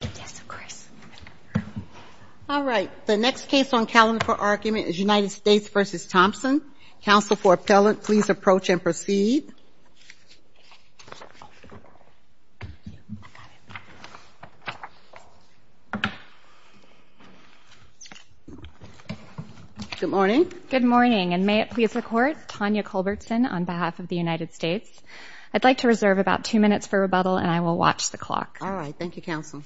The next case on the calendar for argument is United States v. Thompson. Counsel for Appellant, please approach and proceed. Good morning. Good morning, and may it please the Court, Tanya Culbertson on behalf of the United States. I'd like to reserve about two minutes for rebuttal, and I will watch the clock. All right. Thank you, Counsel.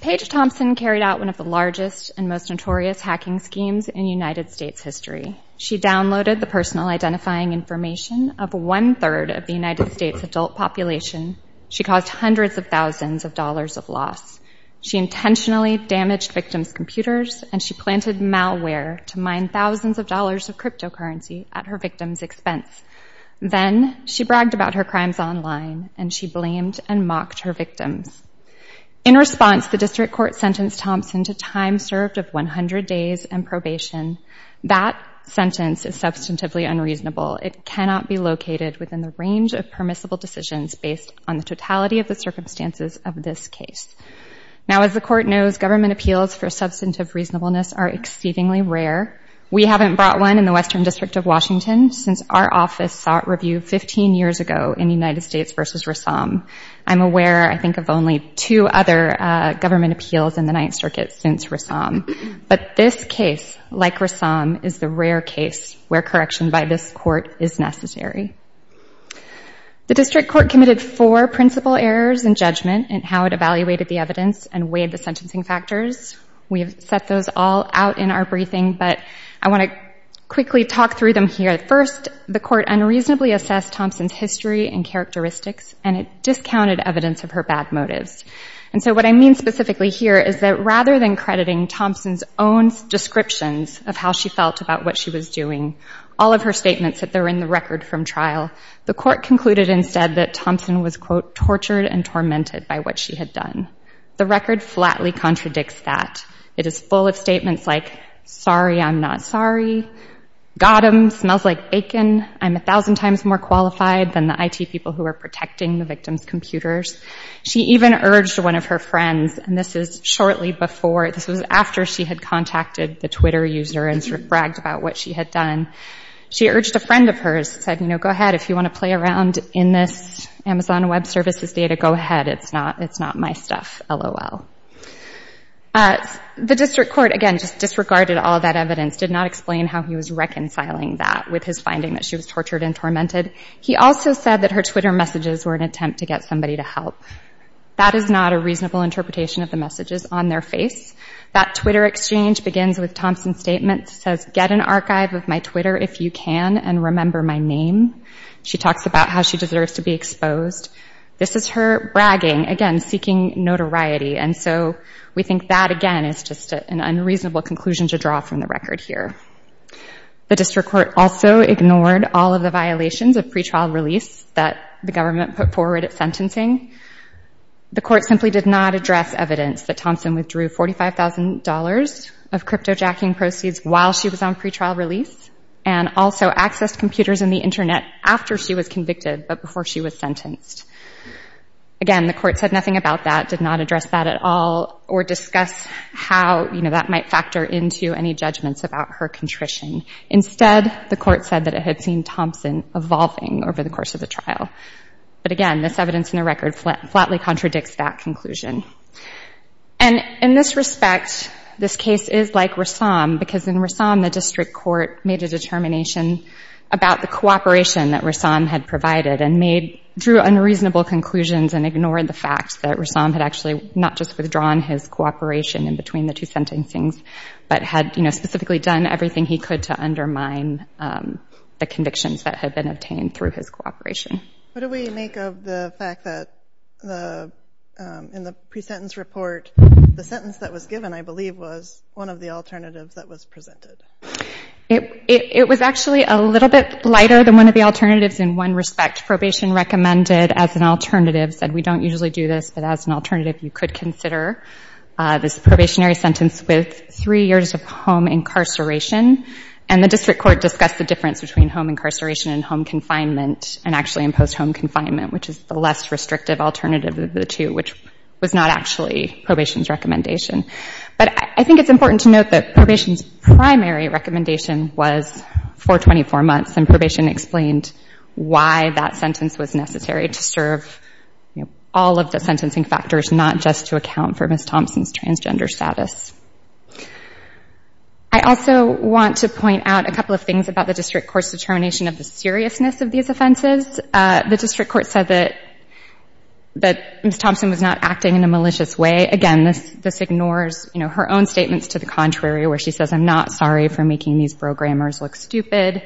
Paige Thompson carried out one of the largest and most notorious hacking schemes in United States history. She downloaded the personal identifying information of one-third of the United States adult population. She caused hundreds of thousands of dollars of loss. She intentionally damaged victims' computers, and she planted malware to mine thousands of dollars of cryptocurrency at her victims' expense. Then she bragged about her crimes online, and she blamed and mocked her victims. In response, the district court sentenced Thompson to time served of 100 days and probation. That sentence is substantively unreasonable. It cannot be located within the range of permissible decisions based on the totality of the circumstances of this case. Now, as the Court knows, government appeals for substantive reasonableness are exceedingly rare. We haven't brought one in the Western District of Washington since our office sought review 15 years ago in United States v. Rassam. I'm aware, I think, of only two other government appeals in the Ninth Circuit since Rassam. But this case, like Rassam, is the rare case where correction by this Court is necessary. The district court committed four principal errors in judgment in how it evaluated the evidence and weighed the sentencing factors. We have set those all out in our briefing, but I want to quickly talk through them here. First, the Court unreasonably assessed Thompson's history and characteristics, and it discounted evidence of her bad motives. And so what I mean specifically here is that rather than crediting Thompson's own descriptions of how she felt about what she was doing, all of her statements that are in the record from trial, the Court concluded instead that Thompson was, quote, The record flatly contradicts that. It is full of statements like, sorry, I'm not sorry, got them, smells like bacon, I'm 1,000 times more qualified than the IT people who are protecting the victims' computers. She even urged one of her friends, and this is shortly before, this was after she had contacted the Twitter user and sort of bragged about what she had done. She urged a friend of hers, said, you know, go ahead, if you want to play around in this Amazon Web Services data, go ahead, it's not my stuff, LOL. The District Court, again, just disregarded all of that evidence, did not explain how he was reconciling that with his finding that she was tortured and tormented. He also said that her Twitter messages were an attempt to get somebody to help. That is not a reasonable interpretation of the messages on their face. That Twitter exchange begins with Thompson's statement, says, Get an archive of my Twitter if you can, and remember my name. She talks about how she deserves to be exposed. This is her bragging, again, seeking notoriety, and so we think that, again, is just an unreasonable conclusion to draw from the record here. The District Court also ignored all of the violations of pretrial release that the government put forward at sentencing. The court simply did not address evidence that Thompson withdrew $45,000 of cryptojacking proceeds while she was on pretrial release, and also accessed computers and the Internet after she was convicted, but before she was sentenced. Again, the court said nothing about that, did not address that at all, or discuss how that might factor into any judgments about her contrition. Instead, the court said that it had seen Thompson evolving over the course of the trial. But again, this evidence in the record flatly contradicts that conclusion. In this respect, this case is like Rassam, because in Rassam, the District Court made a determination about the cooperation that Rassam had provided and drew unreasonable conclusions and ignored the fact that Rassam had actually not just withdrawn his cooperation in between the two sentencings, but had specifically done everything he could to undermine the convictions that had been obtained through his cooperation. What do we make of the fact that in the pre-sentence report, the sentence that was given, I believe, was one of the alternatives that was presented? It was actually a little bit lighter than one of the alternatives in one respect. Probation recommended as an alternative, said we don't usually do this, but as an alternative you could consider this probationary sentence with three years of home incarceration. And the District Court discussed the difference between home incarceration and home confinement and actually imposed home confinement, which is the less restrictive alternative of the two, which was not actually probation's recommendation. But I think it's important to note that probation's primary recommendation was for 24 months, and probation explained why that sentence was necessary to serve all of the sentencing factors, not just to account for Ms. Thompson's transgender status. I also want to point out a couple of things about the District Court's determination of the seriousness of these offenses. The District Court said that Ms. Thompson was not acting in a malicious way. Again, this ignores her own statements to the contrary, where she says, I'm not sorry for making these programmers look stupid.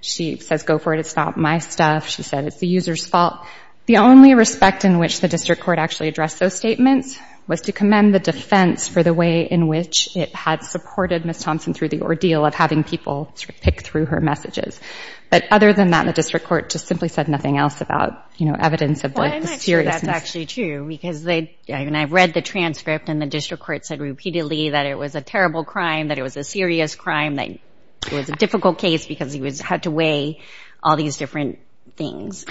She says, go for it, it's not my stuff. She said, it's the user's fault. The only respect in which the District Court actually addressed those statements was to commend the defense for the way in which it had supported Ms. Thompson through the ordeal of having people pick through her messages. But other than that, the District Court just simply said nothing else about evidence of the seriousness. Well, I'm not sure that's actually true, because I read the transcript and the District Court said repeatedly that it was a terrible crime, that it was a serious crime, that it was a difficult case because he had to weigh all these different things.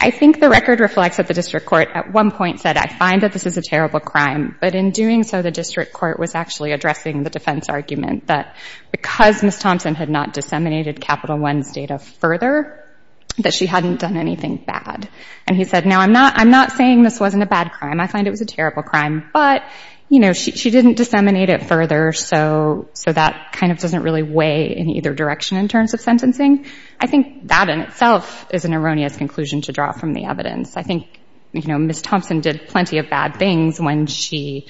I think the record reflects that the District Court at one point said, I find that this is a terrible crime. But in doing so, the District Court was actually addressing the defense argument that because Ms. Thompson had not disseminated Capital One's data further, that she hadn't done anything bad. And he said, now, I'm not saying this wasn't a bad crime. I find it was a terrible crime. But she didn't disseminate it further, so that kind of doesn't really weigh in either direction in terms of sentencing. I think that in itself is an erroneous conclusion to draw from the evidence. I think Ms. Thompson did plenty of bad things when she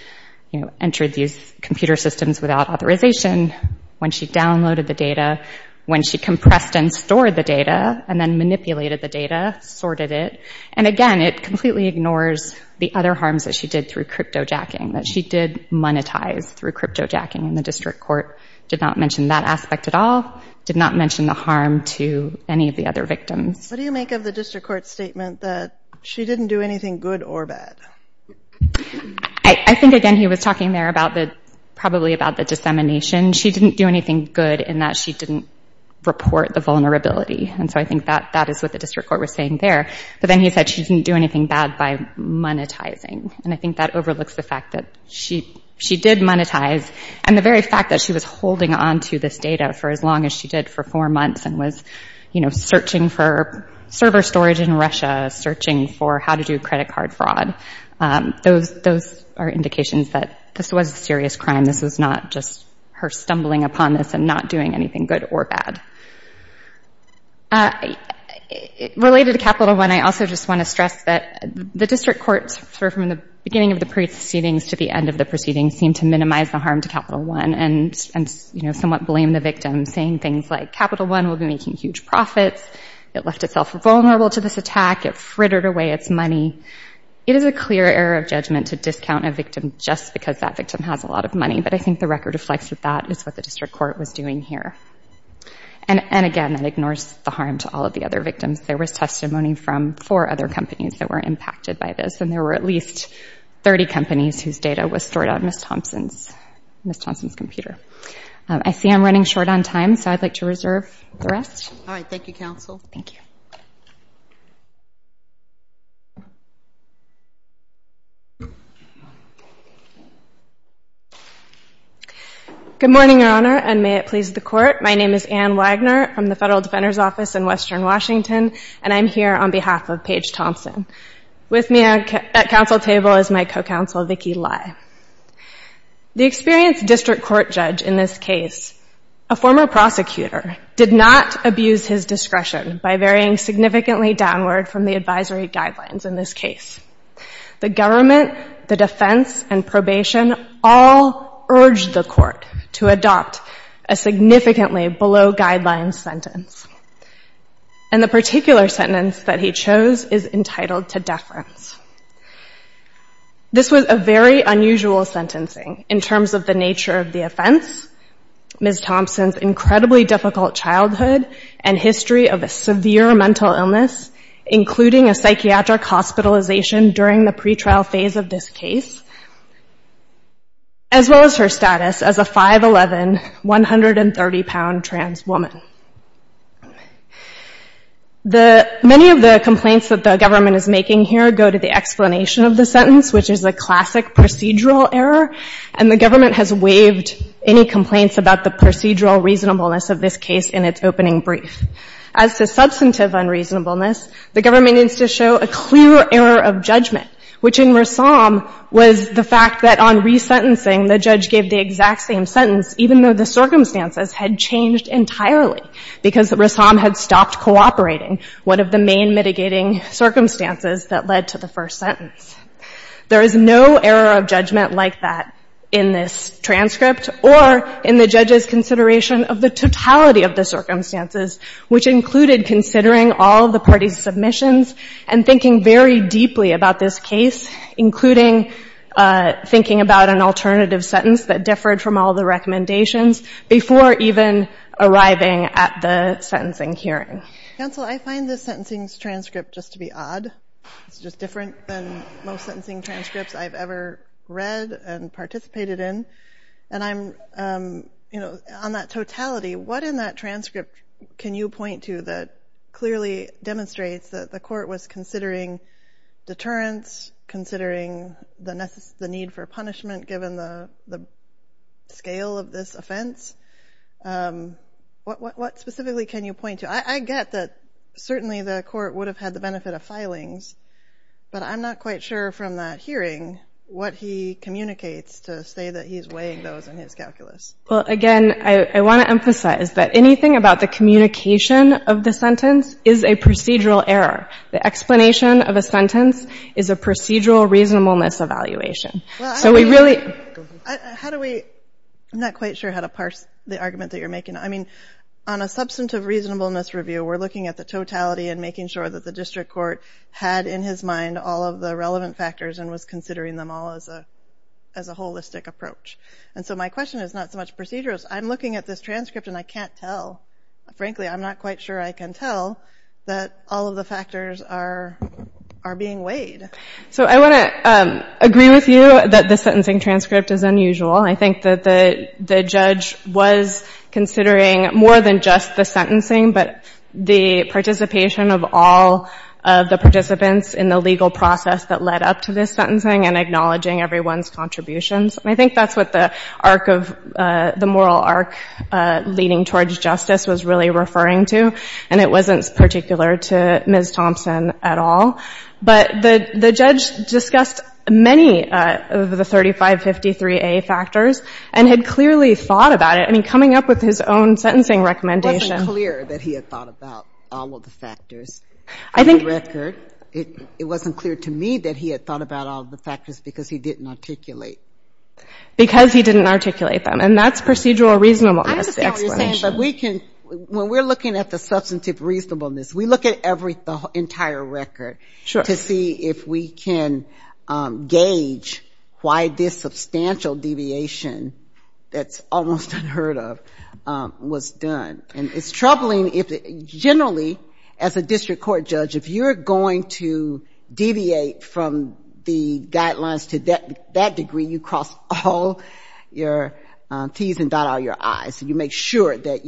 entered these computer systems without authorization, when she downloaded the data, when she compressed and stored the data, and then manipulated the data, sorted it. And again, it completely ignores the other harms that she did through cryptojacking, that she did monetize through cryptojacking, and the District Court did not mention that aspect at all, did not mention the harm to any of the other victims. What do you make of the District Court's statement that she didn't do anything good or bad? I think, again, he was talking there probably about the dissemination. She didn't do anything good in that she didn't report the vulnerability. And so I think that is what the District Court was saying there. But then he said she didn't do anything bad by monetizing. And I think that overlooks the fact that she did monetize, and the very fact that she was holding onto this data for as long as she did for four months and was searching for server storage in Russia, searching for how to do credit card fraud. Those are indications that this was a serious crime. This was not just her stumbling upon this and not doing anything good or bad. Related to Capital One, I also just want to stress that the District Court, from the beginning of the proceedings to the end of the proceedings, seemed to minimize the harm to Capital One and somewhat blame the victims, saying things like, I've been making huge profits. It left itself vulnerable to this attack. It frittered away its money. It is a clear error of judgment to discount a victim just because that victim has a lot of money, but I think the record reflects that that is what the District Court was doing here. And, again, that ignores the harm to all of the other victims. There was testimony from four other companies that were impacted by this, and there were at least 30 companies whose data was stored on Ms. Thompson's computer. I see I'm running short on time, so I'd like to reserve the rest. All right. Thank you, Counsel. Thank you. Good morning, Your Honor, and may it please the Court. My name is Anne Wagner from the Federal Defender's Office in Western Washington, and I'm here on behalf of Paige Thompson. With me at counsel table is my co-counsel, Vicki Lai. The experienced District Court judge in this case, a former prosecutor, did not abuse his discretion by varying significantly downward from the advisory guidelines in this case. The government, the defense, and probation all urged the court to adopt a significantly below guidelines sentence, This was a very unusual sentencing in terms of the nature of the offense, Ms. Thompson's incredibly difficult childhood, and history of a severe mental illness, including a psychiatric hospitalization during the pretrial phase of this case, as well as her status as a 5'11", 130-pound trans woman. Many of the complaints that the government is making here go to the explanation of the sentence, which is a classic procedural error, and the government has waived any complaints about the procedural reasonableness of this case in its opening brief. As to substantive unreasonableness, the government needs to show a clear error of judgment, which in Rassam was the fact that on resentencing, the judge gave the exact same sentence, even though the circumstances had changed entirely because Rassam had stopped cooperating, one of the main mitigating circumstances that led to the first sentence. There is no error of judgment like that in this transcript or in the judge's consideration of the totality of the circumstances, which included considering all the parties' submissions and thinking very deeply about this case, including thinking about an alternative sentence that differed from all the recommendations before even arriving at the sentencing hearing. Counsel, I find this sentencing transcript just to be odd. It's just different than most sentencing transcripts I've ever read and participated in. And I'm, you know, on that totality, what in that transcript can you point to that clearly demonstrates that the court was considering deterrence, considering the need for punishment, given the scale of this offense? What specifically can you point to? I get that certainly the court would have had the benefit of filings, but I'm not quite sure from that hearing what he communicates to say that he's weighing those in his calculus. Well, again, I want to emphasize that anything about the communication of the sentence is a procedural error. The explanation of a sentence is a procedural reasonableness evaluation. So we really... How do we... I'm not quite sure how to parse the argument that you're making. I mean, on a substantive reasonableness review, we're looking at the totality and making sure that the district court had in his mind all of the relevant factors and was considering them all as a holistic approach. And so my question is not so much procedurals. I'm looking at this transcript and I can't tell. Frankly, I'm not quite sure I can tell that all of the factors are being weighed. So I want to agree with you that the sentencing transcript is unusual. I think that the judge was considering more than just the sentencing, but the participation of all of the participants in the legal process that led up to this sentencing and acknowledging everyone's contributions. And I think that's what the moral arc leading towards justice was really referring to. And it wasn't particular to Ms. Thompson at all. But the judge discussed many of the 3553A factors and had clearly thought about it. I mean, coming up with his own sentencing recommendation... It wasn't clear that he had thought about all of the factors. In the record, it wasn't clear to me that he had thought about all of the factors because he didn't articulate. Because he didn't articulate them. And that's procedural reasonableness explanation. When we're looking at the substantive reasonableness, we look at the entire record to see if we can gauge why this substantial deviation that's almost unheard of was done. And it's troubling. Generally, as a district court judge, if you're going to deviate from the guidelines to that degree, you cross all your T's and dot out your I's. You make sure that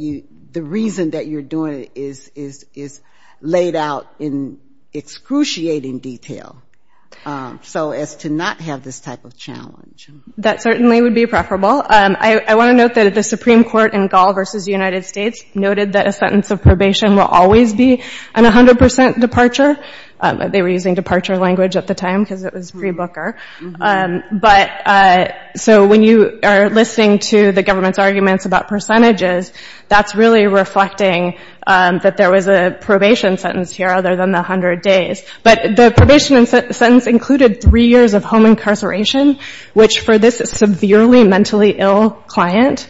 the reason that you're doing it is laid out in excruciating detail so as to not have this type of challenge. That certainly would be preferable. I want to note that the Supreme Court in Gall v. United States noted that a sentence of probation will always be an 100% departure. They were using departure language at the time because it was pre-Booker. So when you are listening to the government's arguments about percentages, that's really reflecting that there was a probation sentence here other than the 100 days. But the probation sentence included three years of home incarceration, which for this severely mentally ill client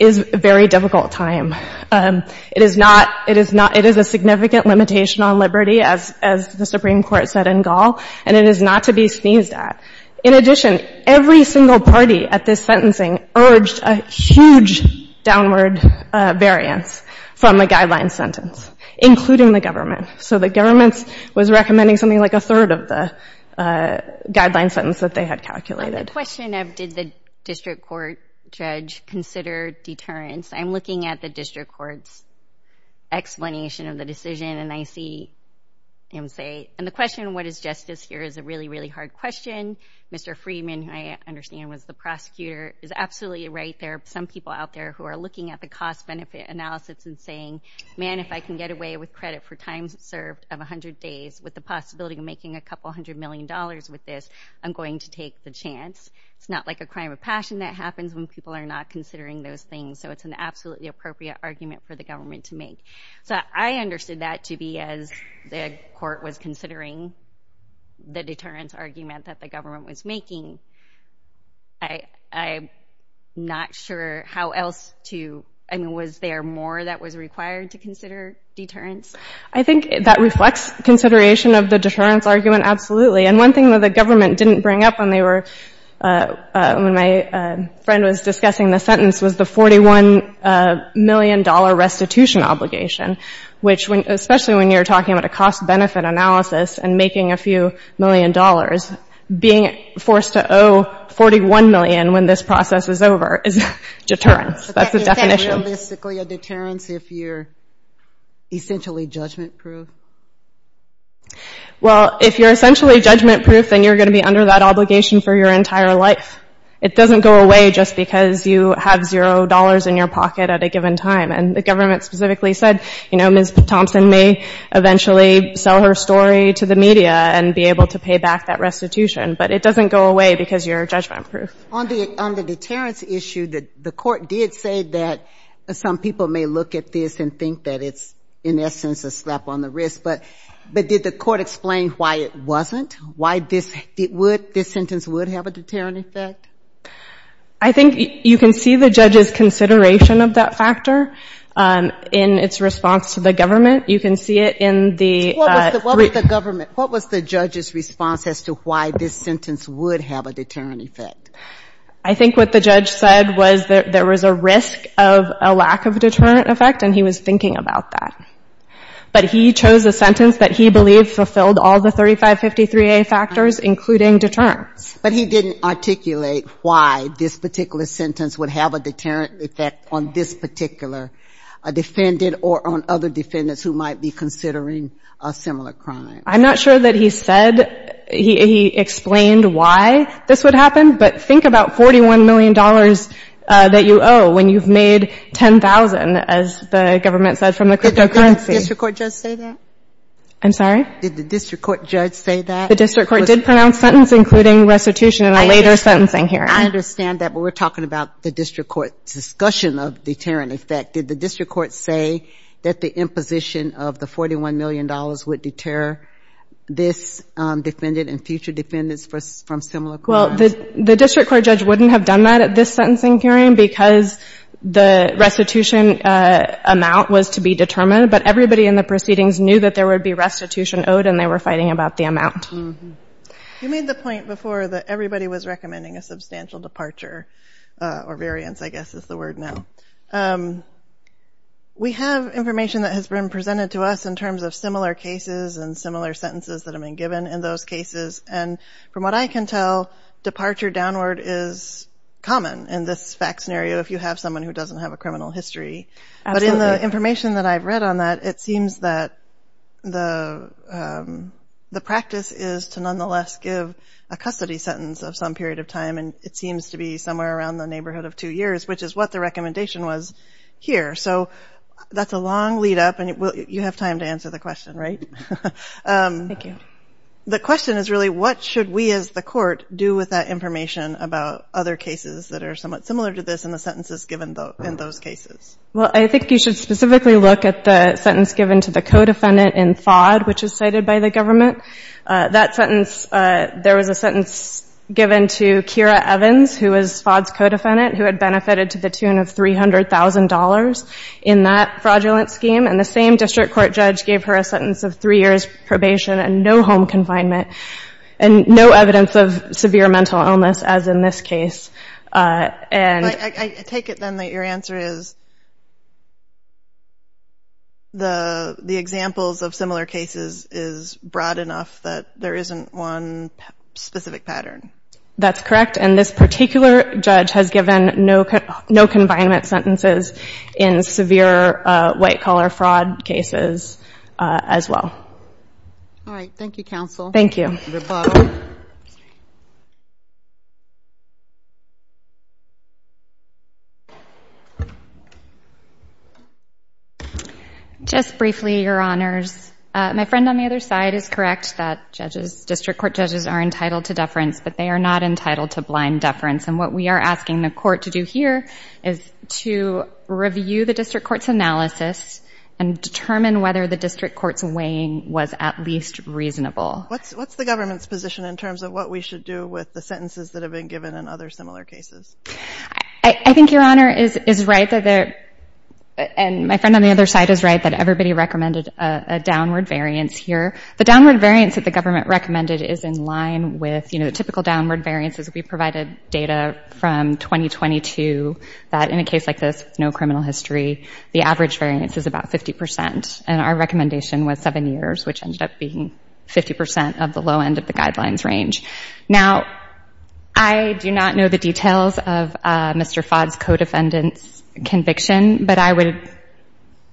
is a very difficult time. It is a significant limitation on liberty, as the Supreme Court said in Gall. And it is not to be sneezed at. In addition, every single party at this sentencing urged a huge downward variance from the guideline sentence, including the government. So the government was recommending something like a third of the guideline sentence that they had calculated. The question of did the district court judge consider deterrence, I'm looking at the district court's explanation of the decision, and I see him say, and the question of what is justice here is a really, really hard question. Mr. Friedman, who I understand was the prosecutor, is absolutely right. There are some people out there who are looking at the cost-benefit analysis and saying, man, if I can get away with credit for time served of 100 days with the possibility of making a couple hundred million dollars with this, I'm going to take the chance. It's not like a crime of passion that happens when people are not considering those things. So it's an absolutely appropriate argument for the government to make. So I understood that to be as the court was considering the deterrence argument that the government was making. I'm not sure how else to, I mean, was there more that was required to consider deterrence? I think that reflects consideration of the deterrence argument, absolutely. And one thing that the government didn't bring up when they were, when my friend was discussing the sentence was the $41 million restitution obligation, which especially when you're talking about a cost-benefit analysis and making a few million dollars, being forced to owe $41 million when this process is over is deterrence. That's the definition. But that means that you're basically a deterrence if you're essentially judgment-proof? Well, if you're essentially judgment-proof, then you're going to be under that obligation for your entire life. It doesn't go away just because you have $0 in your pocket at a given time. And the government specifically said, you know, Ms. Thompson may eventually sell her story to the media and be able to pay back that restitution. But it doesn't go away because you're judgment-proof. On the deterrence issue, the court did say that some people may look at this and think that it's in essence a slap on the wrist. But did the court explain why it wasn't? Why this sentence would have a deterrent effect? I think you can see the judge's consideration of that factor in its response to the government. You can see it in the brief. What was the government, what was the judge's response as to why this sentence would have a deterrent effect? I think what the judge said was that there was a risk of a lack of a deterrent effect, and he was thinking about that. But he chose a sentence that he believed fulfilled all the 3553A factors, including deterrence. But he didn't articulate why this particular sentence would have a deterrent effect on this particular defendant or on other defendants who might be considering a similar crime. I'm not sure that he said, he explained why this would happen. But think about $41 million that you owe when you've made $10,000, as the government said, from the cryptocurrency. Did the district court judge say that? I'm sorry? Did the district court judge say that? The district court did pronounce sentence including restitution in a later sentencing hearing. I understand that, but we're talking about the district court's discussion of deterrent effect. Did the district court say that the imposition of the $41 million would deter this defendant and future defendants from similar crimes? Well, the district court judge wouldn't have done that at this sentencing hearing because the restitution amount was to be determined. But everybody in the proceedings knew that there would be restitution owed, and they were fighting about the amount. You made the point before that everybody was recommending a substantial departure, or variance, I guess is the word now. We have information that has been presented to us in terms of similar cases and similar sentences that have been given in those cases. And from what I can tell, departure downward is common in this fact scenario if you have someone who doesn't have a criminal history. But in the information that I've read on that, it seems that the practice is to nonetheless give a custody sentence of some period of time, and it seems to be somewhere around the neighborhood of two years, which is what the recommendation was here. So that's a long lead-up, and you have time to answer the question, right? Thank you. The question is really what should we as the court do with that information about other cases that are somewhat similar to this in the sentences given in those cases? Well, I think you should specifically look at the sentence given to the co-defendant in FOD, which is cited by the government. That sentence, there was a sentence given to Kira Evans, who was FOD's co-defendant, who had benefited to the tune of $300,000 in that fraudulent scheme. And the same district court judge gave her a sentence of three years probation and no home confinement and no evidence of severe mental illness, as in this case. I take it, then, that your answer is the examples of similar cases is broad enough that there isn't one specific pattern. That's correct, and this particular judge has given no confinement sentences in severe white-collar fraud cases as well. All right. Thank you, counsel. Thank you. Just briefly, Your Honors. My friend on the other side is correct that district court judges are entitled to deference, but they are not entitled to blind deference. And what we are asking the court to do here is to review the district court's analysis and determine whether the district court's weighing was at least reasonable. What's the government's position in terms of what we should do with the sentences that have been given in other similar cases? I think Your Honor is right, and my friend on the other side is right, that everybody recommended a downward variance here. The downward variance that the government recommended is in line with, you know, typical downward variances. We provided data from 2022 that in a case like this with no criminal history, the average variance is about 50%, and our recommendation was seven years, which ended up being 50% of the low end of the guidelines range. Now, I do not know the details of Mr. Fodd's co-defendant's conviction, but I would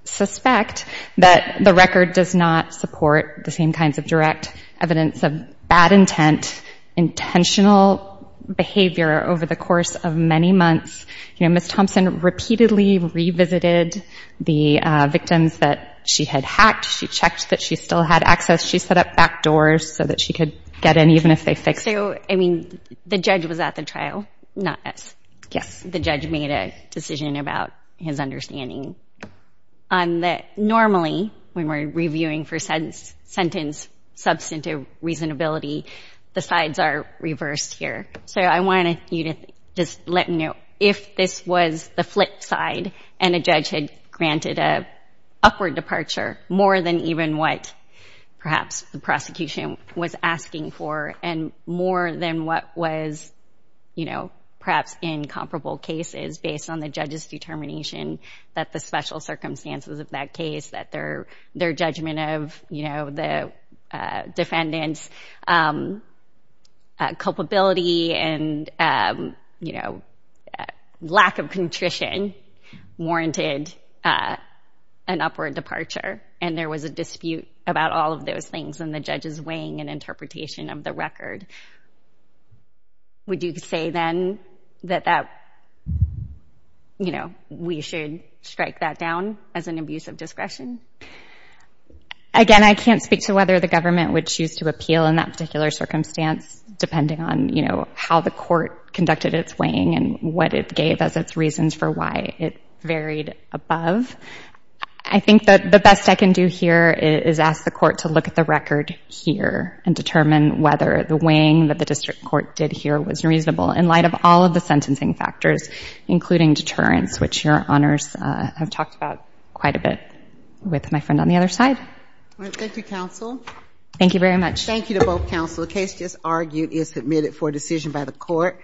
suspect that the record does not support the same kinds of direct evidence of bad intent, intentional behavior over the course of many months. You know, Ms. Thompson repeatedly revisited the victims that she had hacked. She checked that she still had access. She set up back doors so that she could get in even if they fixed it. So, I mean, the judge was at the trial, not us. Yes. The judge made a decision about his understanding. Normally, when we're reviewing for sentence substantive reasonability, the sides are reversed here. So I wanted you to just let me know if this was the flip side and a judge had granted an upward departure more than even what perhaps the prosecution was asking for and more than what was, you know, perhaps in comparable cases based on the judge's determination that the special circumstances of that case, that their judgment of, you know, the defendant's culpability and, you know, lack of contrition warranted an upward departure, and there was a dispute about all of those things and the judge's weighing and interpretation of the record. Would you say then that that, you know, we should strike that down as an abuse of discretion? Again, I can't speak to whether the government would choose to appeal in that particular circumstance depending on, you know, how the court conducted its weighing and what it gave as its reasons for why it varied above. I think that the best I can do here is ask the court to look at the record here and determine whether the weighing that the district court did here was reasonable in light of all of the sentencing factors, including deterrence, which Your Honors have talked about quite a bit with my friend on the other side. All right. Thank you, counsel. Thank you very much. Thank you to both counsel. The case just argued is submitted for decision by the court.